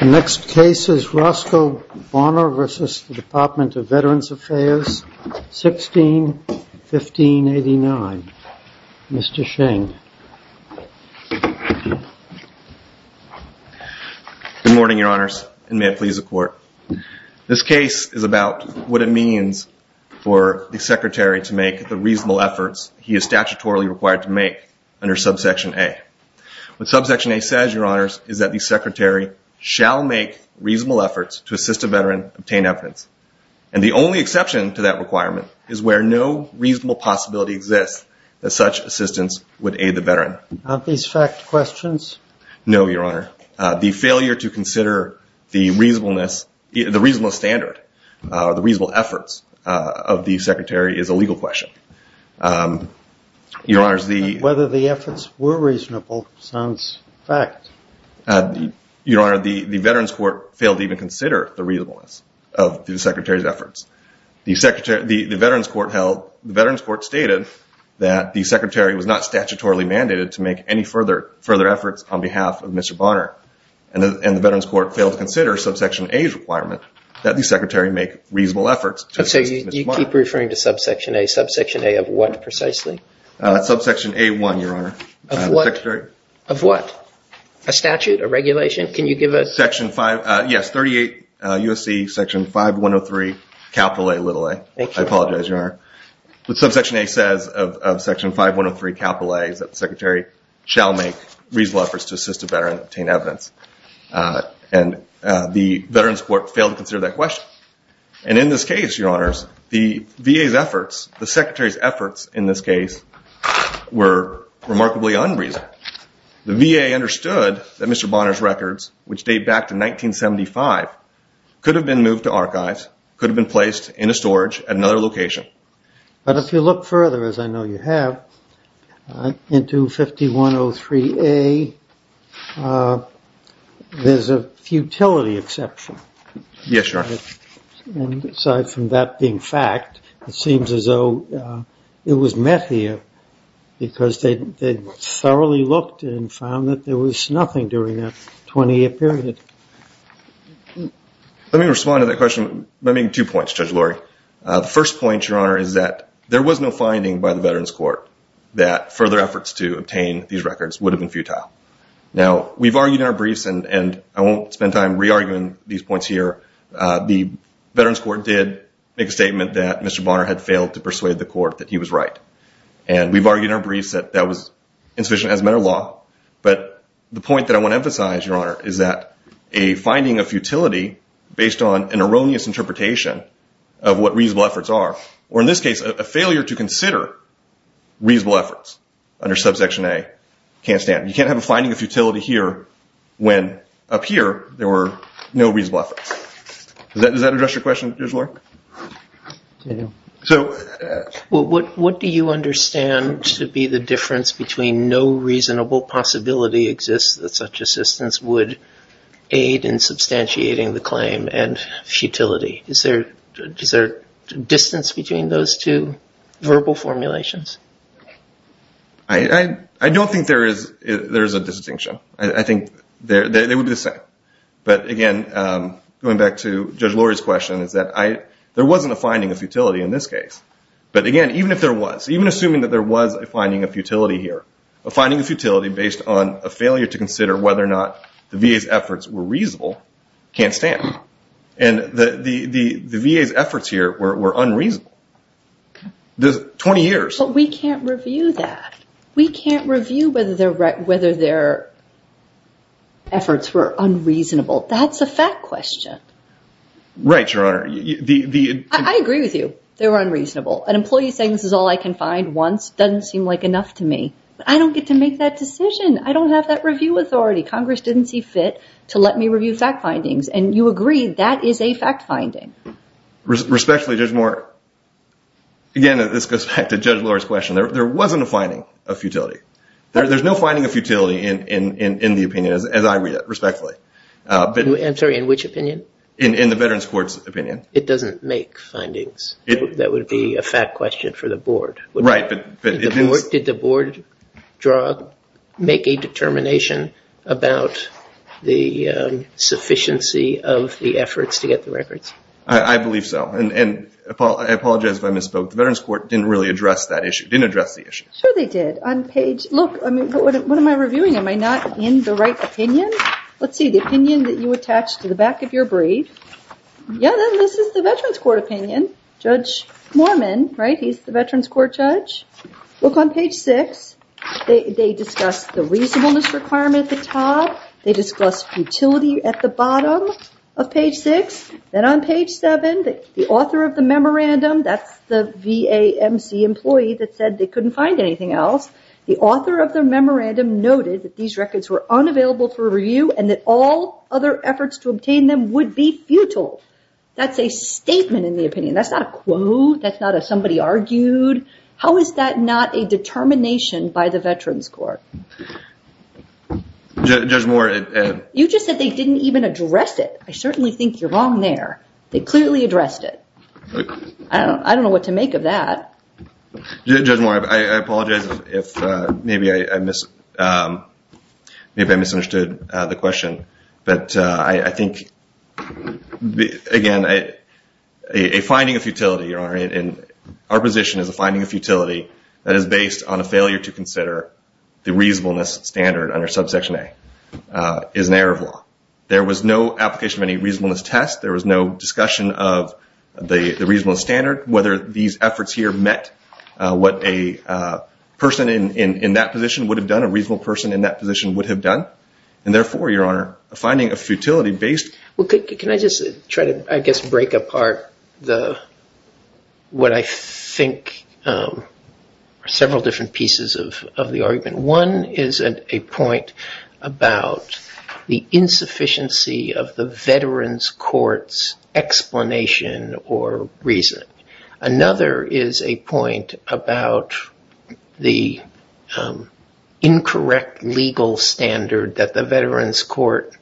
The next case is Roscoe Bonner v. Department of Veterans Affairs, 16-1589. Mr. Sheng. Good morning, Your Honors, and may it please the Court. This case is about what it means for the Secretary to make the reasonable efforts he is statutorily required to make under subsequent section A. What subsection A says, Your Honors, is that the Secretary shall make reasonable efforts to assist a veteran obtain evidence. And the only exception to that requirement is where no reasonable possibility exists that such assistance would aid the veteran. Aren't these fact questions? No, Your Honor. The failure to consider the reasonableness, the reasonable standard, the reasonable efforts of the Secretary is a legal question. Your Honor, the Veterans Court failed to even consider the reasonableness of the Secretary's efforts. The Veterans Court stated that the Secretary was not statutorily mandated to make any further efforts on behalf of Mr. Bonner, and the Veterans Court failed to consider subsection A's requirement that the Secretary make reasonable efforts to assist Mr. Bonner. So you keep referring to subsection A. Subsection A of what precisely? Subsection A1, Your Honor. Of what? A statute, a regulation? Can you give us? Yes, 38 U.S.C. Section 5103, capital A, little a. I apologize, Your Honor. But subsection A says of section 5103, capital A, is that the Secretary shall make reasonable efforts to assist a veteran obtain evidence. And the Veterans Court failed to consider that question. And in this case, the VA's efforts, the Secretary's efforts in this case were remarkably unreasonable. The VA understood that Mr. Bonner's records, which date back to 1975, could have been moved to archives, could have been placed in a storage at another location. But if you look further, as I know you being fact, it seems as though it was met here, because they thoroughly looked and found that there was nothing during that 20-year period. Let me respond to that question by making two points, Judge Lurie. The first point, Your Honor, is that there was no finding by the Veterans Court that further efforts to obtain these records would have been futile. Now, we've argued in and I won't spend time re-arguing these points here. The Veterans Court did make a statement that Mr. Bonner had failed to persuade the court that he was right. And we've argued in our briefs that that was insufficient as a matter of law. But the point that I want to emphasize, Your Honor, is that a finding of futility based on an erroneous interpretation of what reasonable efforts are, or in this case, a failure to consider reasonable efforts under subsection A, can't stand. You can't have a finding of futility here when up here there were no reasonable efforts. Does that address your question, Judge Lurie? I do. What do you understand to be the difference between no reasonable possibility exists that such assistance would aid in substantiating the claim and is there distance between those two verbal formulations? I don't think there is a distinction. I think they would be the same. But again, going back to Judge Lurie's question is that there wasn't a finding of futility in this case. But again, even if there was, even assuming that there was a finding of futility here, a finding of futility based on a failure to consider whether or not the VA's efforts were reasonable, can't stand. And the VA's efforts here were unreasonable. 20 years. But we can't review that. We can't review whether their efforts were unreasonable. That's a fact question. Right, Your Honor. I agree with you. They were unreasonable. An employee saying this is all I can find once doesn't seem like enough to me. But I don't get to make that see fit to let me review fact findings. And you agree that is a fact finding. Respectfully, again, this goes back to Judge Lurie's question. There wasn't a finding of futility. There's no finding of futility in the opinion as I read it, respectfully. I'm sorry, in which opinion? In the Veterans Court's opinion. It doesn't make findings. That would be a fact question for the the sufficiency of the efforts to get the records. I believe so. And I apologize if I misspoke. The Veterans Court didn't really address that issue. Didn't address the issue. Sure they did. On page look, I mean, what am I reviewing? Am I not in the right opinion? Let's see. The opinion that you attach to the back of your brief. Yeah, then this is the Veterans Court opinion. Judge Mormon, right? He's the Veterans Court judge. Look on page six. They discuss the reasonableness requirement at the top. They discuss futility at the bottom of page six. Then on page seven, the author of the memorandum, that's the VAMC employee that said they couldn't find anything else. The author of the memorandum noted that these records were unavailable for review and that all other efforts to obtain them would be futile. That's a statement in the opinion. That's not a quote. That's not somebody argued. How is that not a determination by the Veterans Court? Judge Moore. You just said they didn't even address it. I certainly think you're wrong there. They clearly addressed it. I don't know what to make of that. Judge Moore, I apologize if maybe I misunderstood the question. But I think that, again, a finding of futility, Your Honor, and our position is a finding of futility that is based on a failure to consider the reasonableness standard under subsection A is an error of law. There was no application of any reasonableness test. There was no discussion of the reasonableness standard. Whether these efforts here met what a person in that position would have done, a reasonable person in that position would have done, and therefore, Your Honor, a finding of futility based... Well, can I just try to, I guess, break apart what I think are several different pieces of the argument. One is a point about the insufficiency of the Veterans Court's explanation or reason. Another is a point about the incorrect legal standard that the Veterans Court,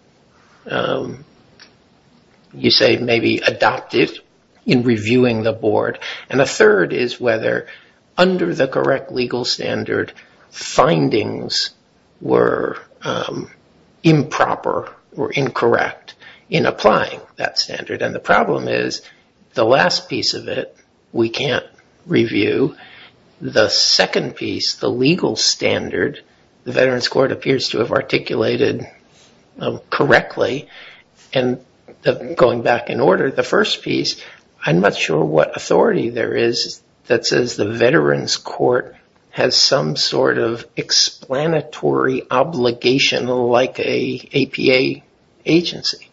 you say, maybe adopted in reviewing the board. And a third is whether under the correct legal standard, findings were improper or incorrect in applying that standard. And the problem is, the last piece of it we can't review. The second piece, the legal standard, the Veterans Court appears to have articulated correctly. And going back in order, the first piece, I'm not sure what authority there is that says the Veterans Court has some sort of explanatory obligation like a APA agency.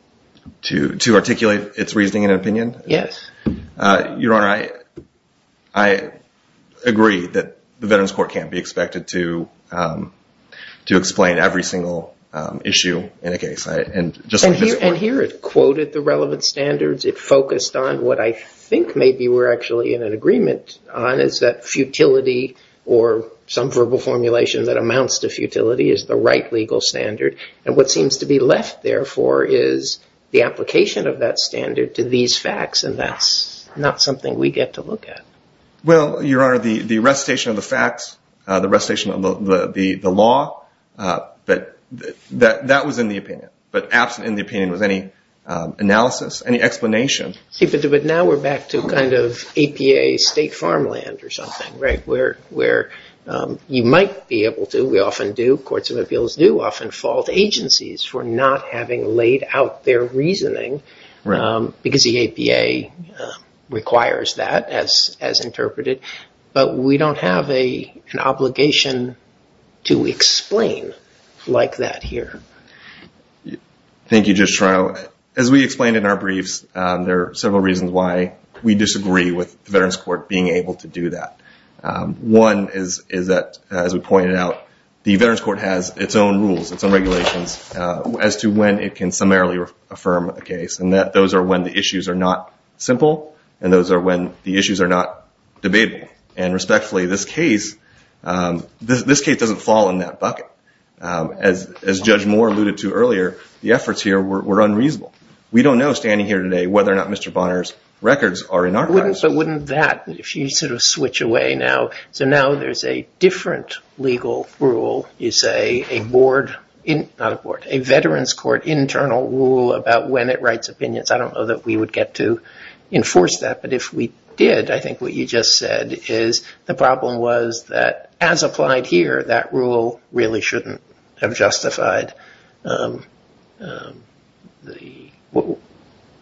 To articulate its reasoning and opinion? Yes. Your Honor, I agree that the Veterans Court can't be expected to explain every single issue in a case. And here it quoted the relevant standards. It focused on what I think maybe we're actually in an agreement on is that futility or some verbal formulation that amounts to futility is the right legal standard. And what seems to be left, therefore, is the application of that standard to these facts. And that's not something we get to look at. Well, Your Honor, the recitation of the facts, the recitation of the law, that was in the opinion. But absent in the opinion was any analysis, any explanation. But now we're back to kind of APA state farmland or something, right? Where you might be able to, we often do, courts of appeals do often fault agencies for not having laid out their reasoning because the APA requires that as interpreted. But we don't have an obligation to explain like that here. Thank you, Judge Toronto. As we explained in our briefs, there are several reasons why we disagree with the Veterans Court being able to do that. One is that, as we pointed out, the Veterans Court has its own rules, its own regulations as to when it can summarily affirm a case. And those are when the issues are not simple. And those are when the issues are not debatable. And respectfully, this case doesn't fall in that bucket. As Judge Moore alluded to earlier, the efforts here were unreasonable. We don't know, standing here today, whether or not Mr. Bonner's records are in archives. But wouldn't that, if you sort of switch away now, so now there's a different legal rule, you say, a board, not a board, a Veterans Court internal rule about when it writes opinions. I don't know that we would get to enforce that. But if we did, I think what you just said is the problem was that, as applied here, that rule really shouldn't have justified,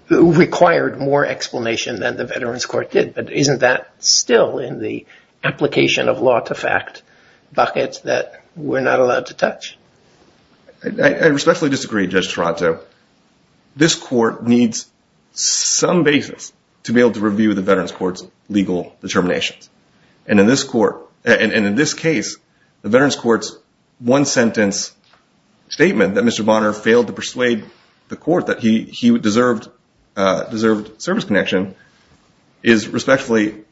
required more explanation than the Veterans Court did. But isn't that still in the application of law-to-fact bucket that we're not allowed to touch? I respectfully disagree, Judge Toronto. This court needs some basis to be able to review the Veterans Court's legal determinations. And in this case, the Veterans Court's one-sentence statement that Mr. Bonner failed to persuade the court that he deserved service connection is respectfully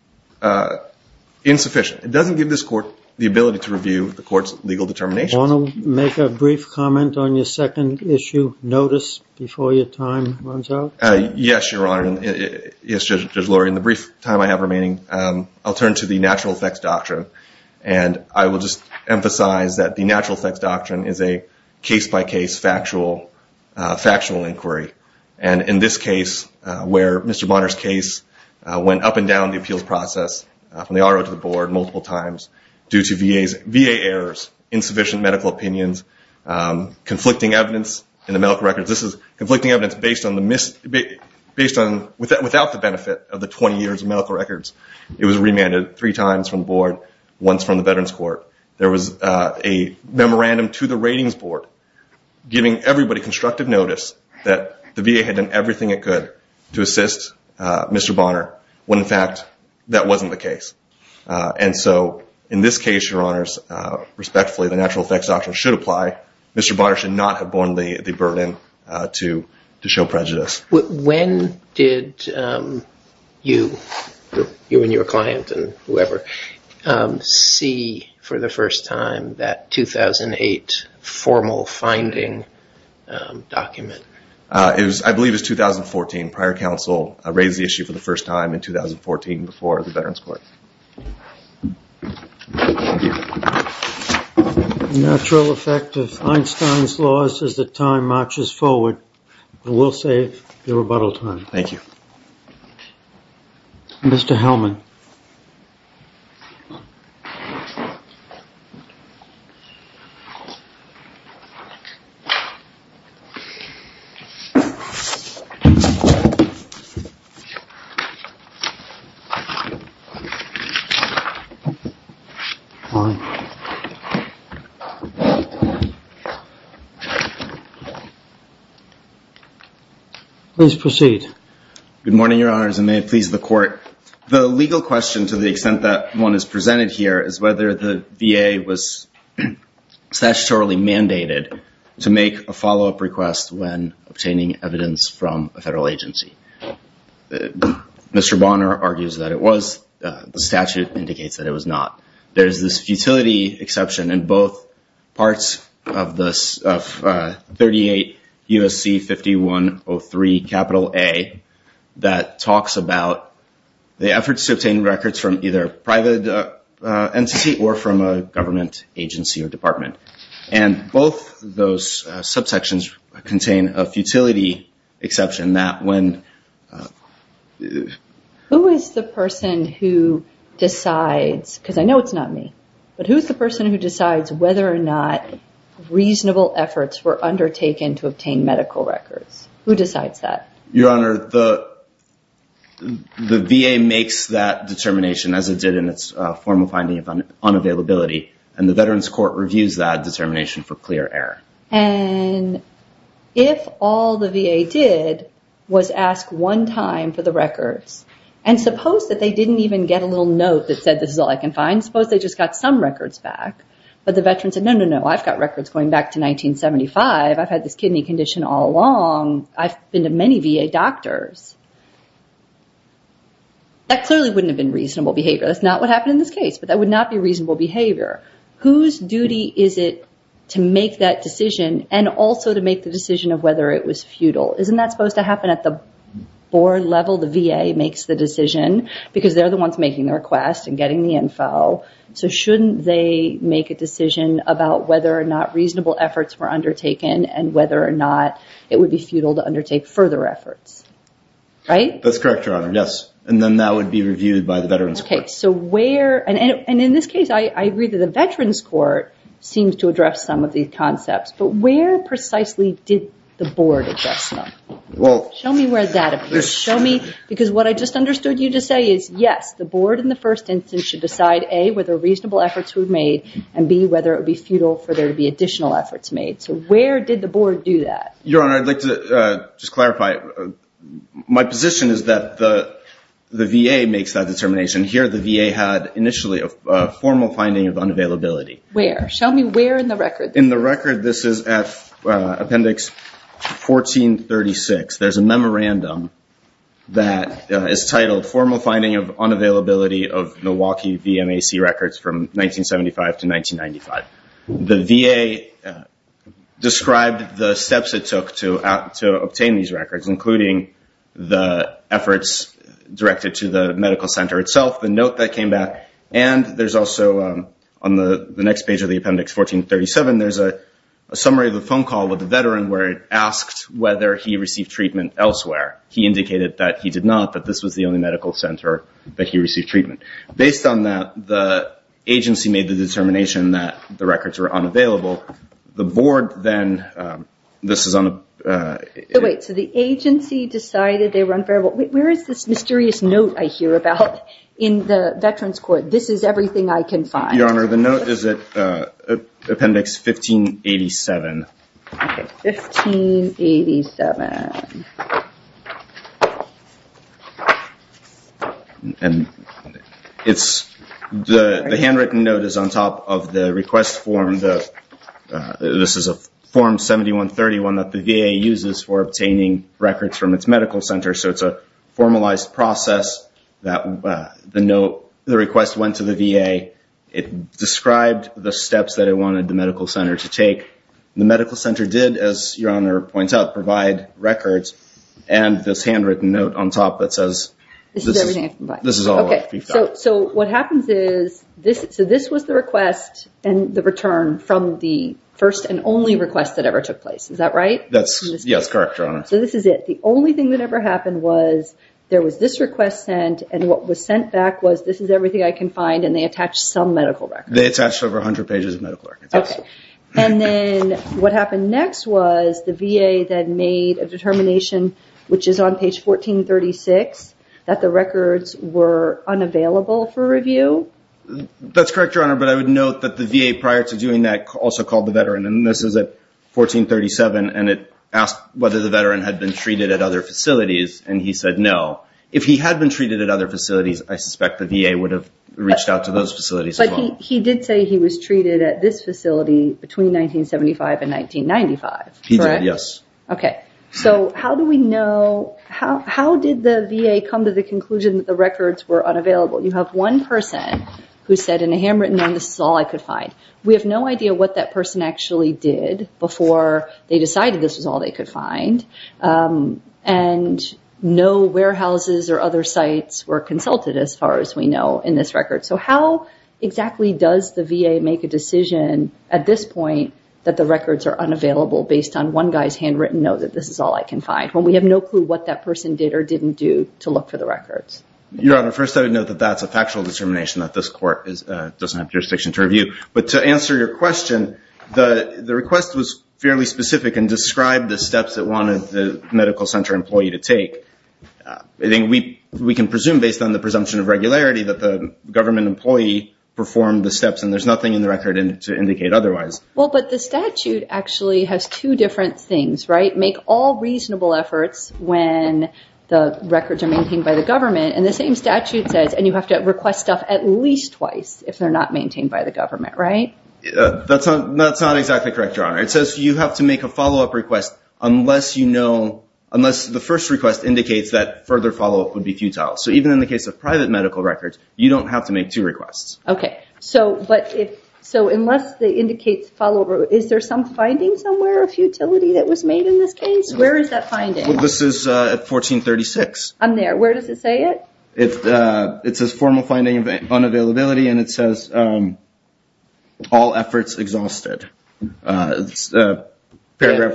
insufficient. It doesn't give this court the ability to review the court's legal determinations. Do you want to make a brief comment on your second issue notice before your time runs out? Yes, Your Honor. Yes, Judge Lurie. In the brief time I have remaining, I'll turn to the natural effects doctrine. And I will just emphasize that the natural effects doctrine is a case-by-case factual inquiry. And in this case, where Mr. Bonner's case went up and down the appeals process from the R.O. to the board multiple times due to VA errors, insufficient medical opinions, conflicting evidence in the medical records. This is conflicting evidence without the benefit of the 20 years of medical records. It was remanded three times from the board, once from the Veterans Court. There was a memorandum to the ratings board giving everybody constructive notice that the VA had done everything it could to assist Mr. Bonner when, in fact, that wasn't the case. And so, in this case, Your Honors, respectfully, the natural effects doctrine should apply. Mr. Bonner should not have borne the burden to show prejudice. When did you and your client and whoever see for the first time that 2008 formal finding document? It was, I believe, it was 2014. Prior counsel raised the issue for the first time in 2014 before the Veterans Court. Natural effect of Einstein's laws as the time marches forward. We'll save your rebuttal time. Thank you. Mr. Hellman. Please proceed. Good morning, Your Honors, and may it please the court. The legal question, to the extent that one is presented here, is whether the VA was statutorily mandated to make a follow-up request when obtaining evidence from a federal agency. Mr. Bonner argues that it was. The statute indicates that it was not. There's this 38 U.S.C. 5103 A that talks about the efforts to obtain records from either private entity or from a government agency or department. And both those subsections contain a futility exception that when. Who is the person who decides, because I know it's not me, but who's the person who decides whether or not reasonable efforts were undertaken to obtain medical records? Who decides that? Your Honor, the VA makes that determination as it did in its formal finding of unavailability, and the Veterans Court reviews that determination for clear error. And if all the VA did was ask one time for the records, and suppose that they didn't even get a little note that said, this is all I can find. Suppose they just got some records back, but the veterans said, no, no, no, I've got records going back to 1975. I've had this kidney condition all along. I've been to many VA doctors. That clearly wouldn't have been reasonable behavior. That's not what happened in this case, but that would not be reasonable behavior. Whose duty is it to make that decision and also to make the decision of whether it was futile? Isn't that supposed to happen at the board level? The VA makes the decision because they're the ones making the request and getting the info. So shouldn't they make a decision about whether or not reasonable efforts were undertaken and whether or not it would be futile to undertake further efforts? Right? That's correct, Your Honor. Yes. And then that would be reviewed by the Veterans Court. Okay. So where, and in this case, I agree that the Veterans Court seems to address some of these concepts, but where precisely did the board address them? Show me where that appears. Show me, because what I just understood you to say is, yes, the board in the first instance should decide, A, whether reasonable efforts were made, and B, whether it would be futile for there to be additional efforts made. So where did the board do that? Your Honor, I'd like to just clarify. My position is that the VA makes that determination. Here, the VA had initially a formal finding of unavailability. Where? Show me where in the record. In the record, this is at Appendix 1436. There's a memorandum that is titled, Formal Finding of Unavailability of Milwaukee VMAC Records from 1975 to 1995. The VA described the steps it took to obtain these records, including the efforts directed to the medical center itself, the note that came back, and there's also on the next page of the summary of the phone call with the veteran where it asked whether he received treatment elsewhere. He indicated that he did not, that this was the only medical center that he received treatment. Based on that, the agency made the determination that the records were unavailable. The board then, this is on a... Wait, so the agency decided they were unbearable. Where is this mysterious note I hear about in the Veterans Court? This is I can find. Your Honor, the note is at Appendix 1587. 1587. The handwritten note is on top of the request form. This is a Form 7131 that the VA uses for obtaining records from its medical center. It's a formalized process that the request went to the VA. It described the steps that it wanted the medical center to take. The medical center did, as Your Honor points out, provide records and this handwritten note on top that says... This is everything I can find. This is all I can find. So what happens is, so this was the request and the return from the first and only request that ever took place. Is that right? Yes, that's correct, Your Honor. So this is it. The only thing that ever happened was there was this request sent and what was sent back was this is everything I can find and they attached some medical records. They attached over a hundred pages of medical records. Okay. And then what happened next was the VA then made a determination, which is on page 1436, that the records were unavailable for review. That's correct, Your Honor, but I would note that the VA prior to doing that also called the veteran and this is at 1437 and it asked whether the veteran had been treated at facilities and he said no. If he had been treated at other facilities, I suspect the VA would have reached out to those facilities as well. But he did say he was treated at this facility between 1975 and 1995, correct? He did, yes. Okay. So how do we know... How did the VA come to the conclusion that the records were unavailable? You have one person who said in a handwritten note, this is all I could find. We have no idea what that person actually did before they decided this was all they could find and no warehouses or other sites were consulted as far as we know in this record. So how exactly does the VA make a decision at this point that the records are unavailable based on one guy's handwritten note that this is all I can find when we have no clue what that person did or didn't do to look for the records? Your Honor, first I would note that that's a factual determination that this court doesn't have jurisdiction to review. But to answer your question, the request was fairly specific and described the steps that the medical center employee to take. I think we can presume based on the presumption of regularity that the government employee performed the steps and there's nothing in the record to indicate otherwise. Well, but the statute actually has two different things, right? Make all reasonable efforts when the records are maintained by the government. And the same statute says, and you have to request stuff at least twice if they're not maintained by the government, right? That's not exactly correct, Your Honor. It says you have to make a follow-up request unless you know, unless the first request indicates that further follow-up would be futile. So even in the case of private medical records, you don't have to make two requests. Okay. So, but if, so unless they indicate follow-up, is there some finding somewhere of futility that was made in this case? Where is that finding? Well, this is 1436. I'm there. Where does it say it? It's a formal finding of unavailability and it says all efforts exhausted. Paragraph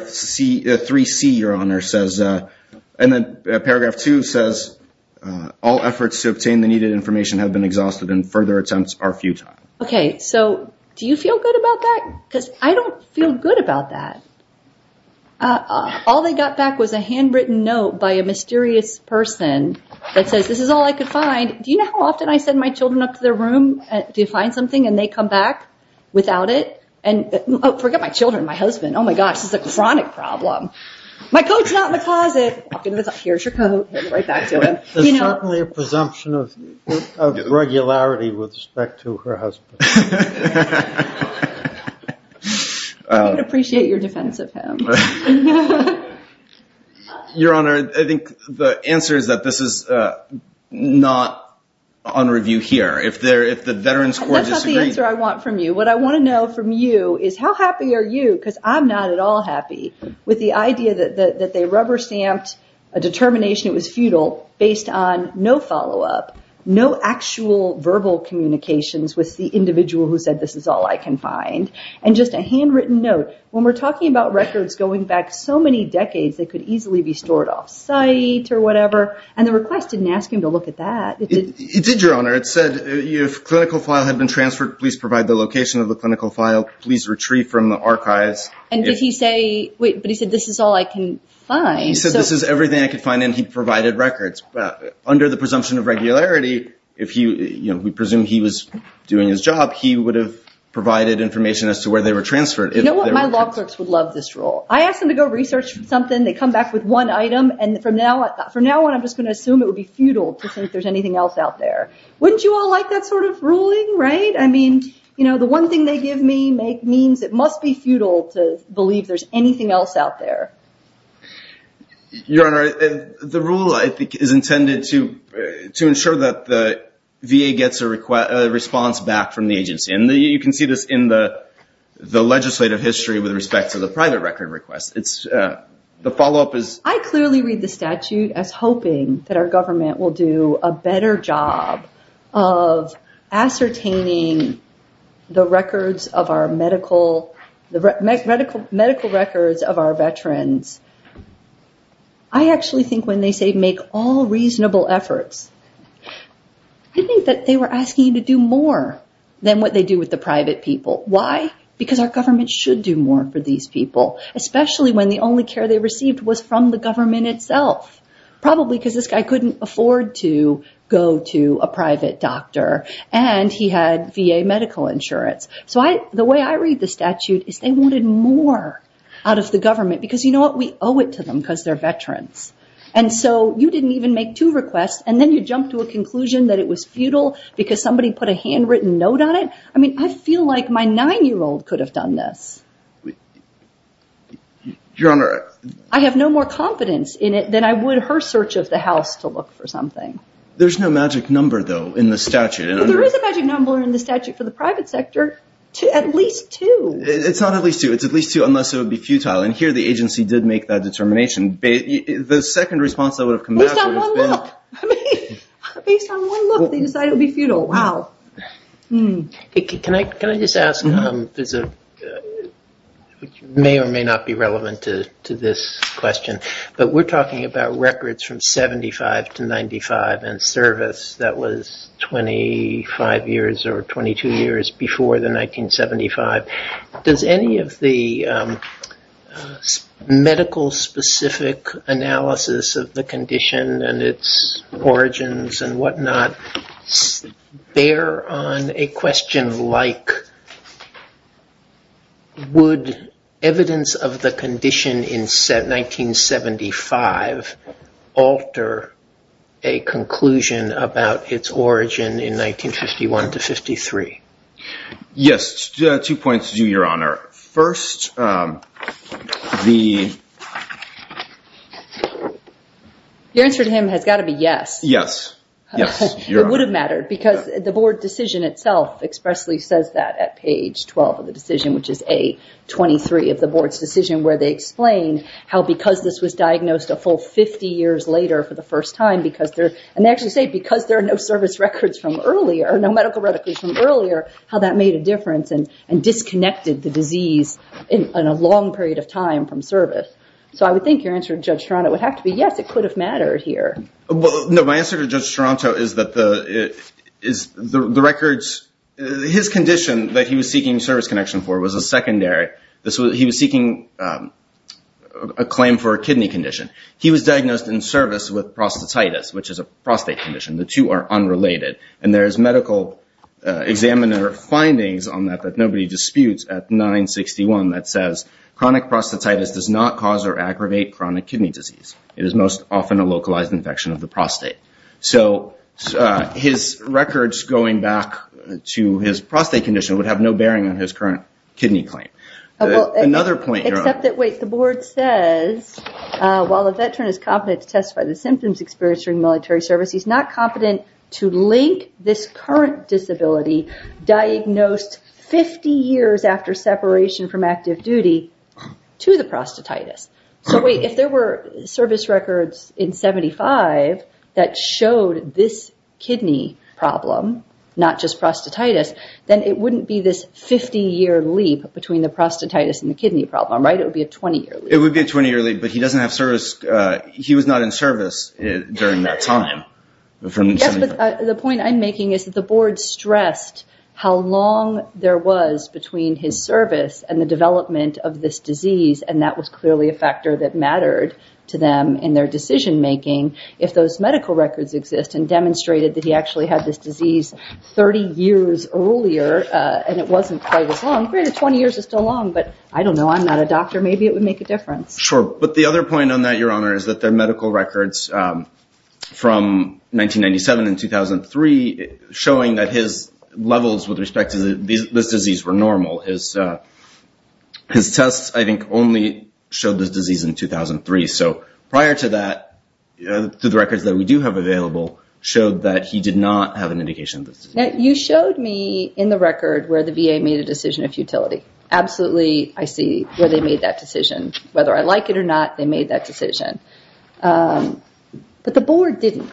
3C, Your Honor, says, and then paragraph two says, all efforts to obtain the needed information have been exhausted and further attempts are futile. Okay. So do you feel good about that? Because I don't feel good about that. All they got back was a handwritten note by a mysterious person that says, this is all I could do. Do you find something? And they come back without it. And, oh, forget my children, my husband. Oh my gosh, this is a chronic problem. My coat's not in the closet. Here's your coat. There's certainly a presumption of regularity with respect to her husband. I would appreciate your defense of him. Your Honor, I think the answer is that this is not on review here. If the veteran's court disagrees- That's not the answer I want from you. What I want to know from you is how happy are you, because I'm not at all happy with the idea that they rubber stamped a determination, it was futile, based on no follow-up, no actual verbal communications with the individual who said, this is all I can find. And just a handwritten note, when we're talking about records going back so many decades, they could easily be stored off site or whatever. And the request didn't ask him to look at that. It did, Your Honor. It said, if clinical file had been transferred, please provide the location of the clinical file. Please retrieve from the archives. And did he say, wait, but he said, this is all I can find. He said, this is everything I could find. And he provided records. Under the presumption of regularity, if he, we presume he was doing his job, he would have provided information as to where they were transferred. You know what? My law clerks would love this rule. I asked them to go research something. They come back with one item. And from now on, I'm just going to assume it would be futile to think there's anything else out there. Wouldn't you all like that sort of ruling, right? I mean, you know, the one thing they give me means it must be futile to believe there's anything else out there. Your Honor, the rule, I think, is intended to ensure that the VA gets a response back from the agency. And you can see this in the legislative history with respect to the private record request. The follow-up is... I clearly read the statute as hoping that our government will do a better job of ascertaining the records of our medical records of our veterans. I actually think when they say make all reasonable efforts, I think that they were asking you to do more than what they do with the private people. Why? Because our government should do more for these people, especially when the only care they received was from the government itself. Probably because this guy couldn't afford to go to a private doctor and he had VA medical insurance. So the way I read the statute is they wanted more out of the government because you know what? We owe it to them because they're veterans. And so you didn't even make two requests and then you jump to a conclusion that it was futile because somebody put a handwritten note on it. I mean, I feel like my nine-year-old could have done this. Your Honor... I have no more confidence in it than I would her search of the house to look for something. There's no magic number though in the statute. There is a magic number in the statute for the private sector. At least two. It's not at least two. It's at least two unless it would be futile. And here the agency did make that determination. The second response that would come back would have been... Based on one look, they decided it would be futile. Wow. Can I just ask, which may or may not be relevant to this question, but we're talking about records from 75 to 95 and service that was 25 years or 22 years before the 1975. Does any of the specific analysis of the condition and its origins and whatnot bear on a question like, would evidence of the condition in 1975 alter a conclusion about its origin in 1951 to 53? Yes. Two points to you, Your Honor. First, the... Your answer to him has got to be yes. Yes. Yes, Your Honor. It would have mattered because the board decision itself expressly says that at page 12 of the decision, which is A23 of the board's decision, where they explain how because this was diagnosed a full 50 years later for the first time because they're... And they actually say because there how that made a difference and disconnected the disease in a long period of time from service. So I would think your answer to Judge Toronto would have to be yes, it could have mattered here. No, my answer to Judge Toronto is that the records... His condition that he was seeking service connection for was a secondary. He was seeking a claim for a kidney condition. He was diagnosed in service with prostatitis, which is a prostate condition. The two are unrelated. And there's medical examiner findings on that that nobody disputes at 961 that says, chronic prostatitis does not cause or aggravate chronic kidney disease. It is most often a localized infection of the prostate. So his records going back to his prostate condition would have no bearing on his current kidney claim. Another point, Your Honor. Except that, wait, the board says, while a veteran is competent to testify to the symptoms experienced during military service, he's not competent to link this current disability diagnosed 50 years after separation from active duty to the prostatitis. So wait, if there were service records in 75 that showed this kidney problem, not just prostatitis, then it wouldn't be this 50-year leap between the prostatitis and the kidney problem, right? It would be a 20-year leap. It would be a 20-year leap, but he doesn't have service... He was not in service during that time. Yes, but the point I'm making is that the board stressed how long there was between his service and the development of this disease. And that was clearly a factor that mattered to them in their decision making if those medical records exist and demonstrated that he actually had this disease 30 years earlier. And it wasn't quite as long. 20 years is still long, but I don't know. I'm not a doctor. Maybe it would make a difference. Sure. But the other point on that, Your Honor, is that their medical records from 1997 and 2003 showing that his levels with respect to this disease were normal. His tests, I think, only showed this disease in 2003. So prior to that, through the records that we do have available, showed that he did not have an indication. You showed me in the record where the VA made a decision of futility. Absolutely, I see where they are. But the board didn't.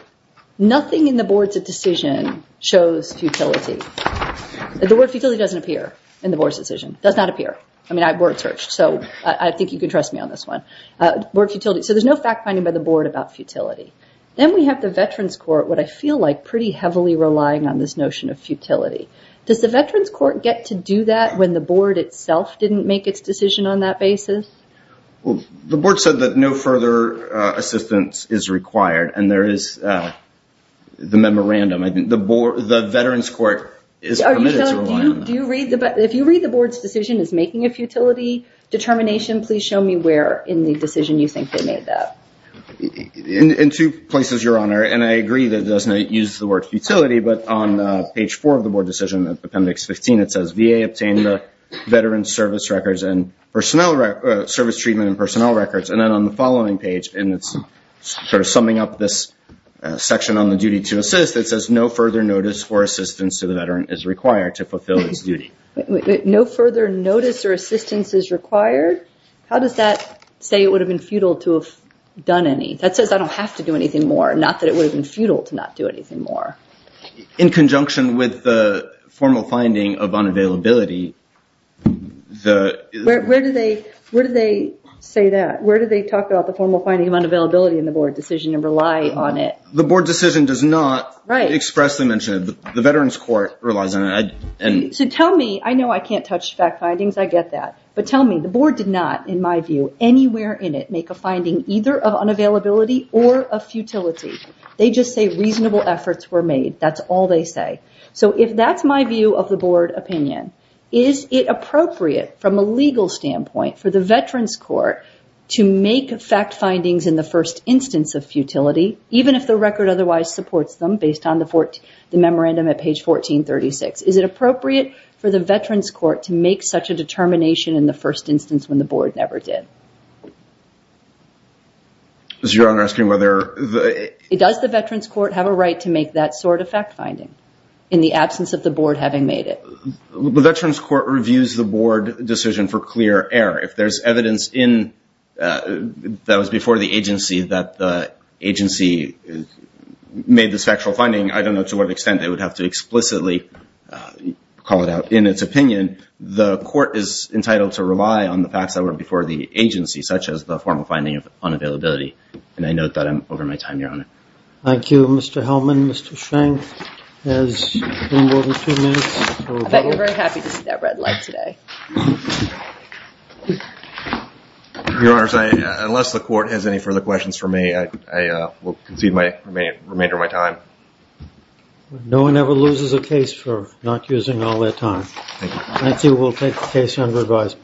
Nothing in the board's decision shows futility. The word futility doesn't appear in the board's decision. Does not appear. I mean, I board searched, so I think you can trust me on this one. So there's no fact finding by the board about futility. Then we have the Veterans Court, what I feel like pretty heavily relying on this notion of futility. Does the Veterans Court get to do that when the board itself didn't make its decision on that basis? Well, the board said that no further assistance is required. And there is the memorandum. I think the Veterans Court is committed to relying on that. If you read the board's decision as making a futility determination, please show me where in the decision you think they made that. In two places, Your Honor. And I agree that it doesn't use the word futility. But on page four of the board decision, Appendix 15, it says VA obtained the Veterans Service Records and Personnel Service Treatment and Personnel Records. And then on the following page, and it's sort of summing up this section on the duty to assist, it says no further notice or assistance to the veteran is required to fulfill its duty. No further notice or assistance is required? How does that say it would have been futile to have done any? That says I don't have to do anything more. Not that it would have been futile to not do anything more. In conjunction with the formal finding of unavailability, the... Where do they say that? Where do they talk about the formal finding of unavailability in the board decision and rely on it? The board decision does not expressly mention it. The Veterans Court relies on it. So tell me, I know I can't touch fact findings, I get that. But tell me, the board did not, in my view, anywhere in it, make a finding either of unavailability or of futility. They just say reasonable efforts were made. That's all they say. So if that's my view of the board opinion, is it appropriate from a legal standpoint for the Veterans Court to make fact findings in the first instance of futility, even if the record otherwise supports them based on the memorandum at page 1436? Is it appropriate for the Veterans Court to make such a determination in the first instance when the board never did? Is Your Honor asking whether... Does the Veterans Court have a right to make that sort of fact finding in the absence of the board having made it? The Veterans Court reviews the board decision for clear error. If there's evidence that was before the agency that the agency made this factual finding, I don't know to what extent they would have to explicitly call it out in its opinion. The court is entitled to rely on the facts that were before the agency, such as the formal finding of unavailability. And I note that I'm over my time, Your Honor. Thank you, Mr. Hellman. Mr. Schenck has no more than two minutes. I bet you're very happy to see that red light today. Your Honor, unless the court has any further questions for me, I will concede the time. No one ever loses a case for not using all their time. I think we'll take the case under advisement.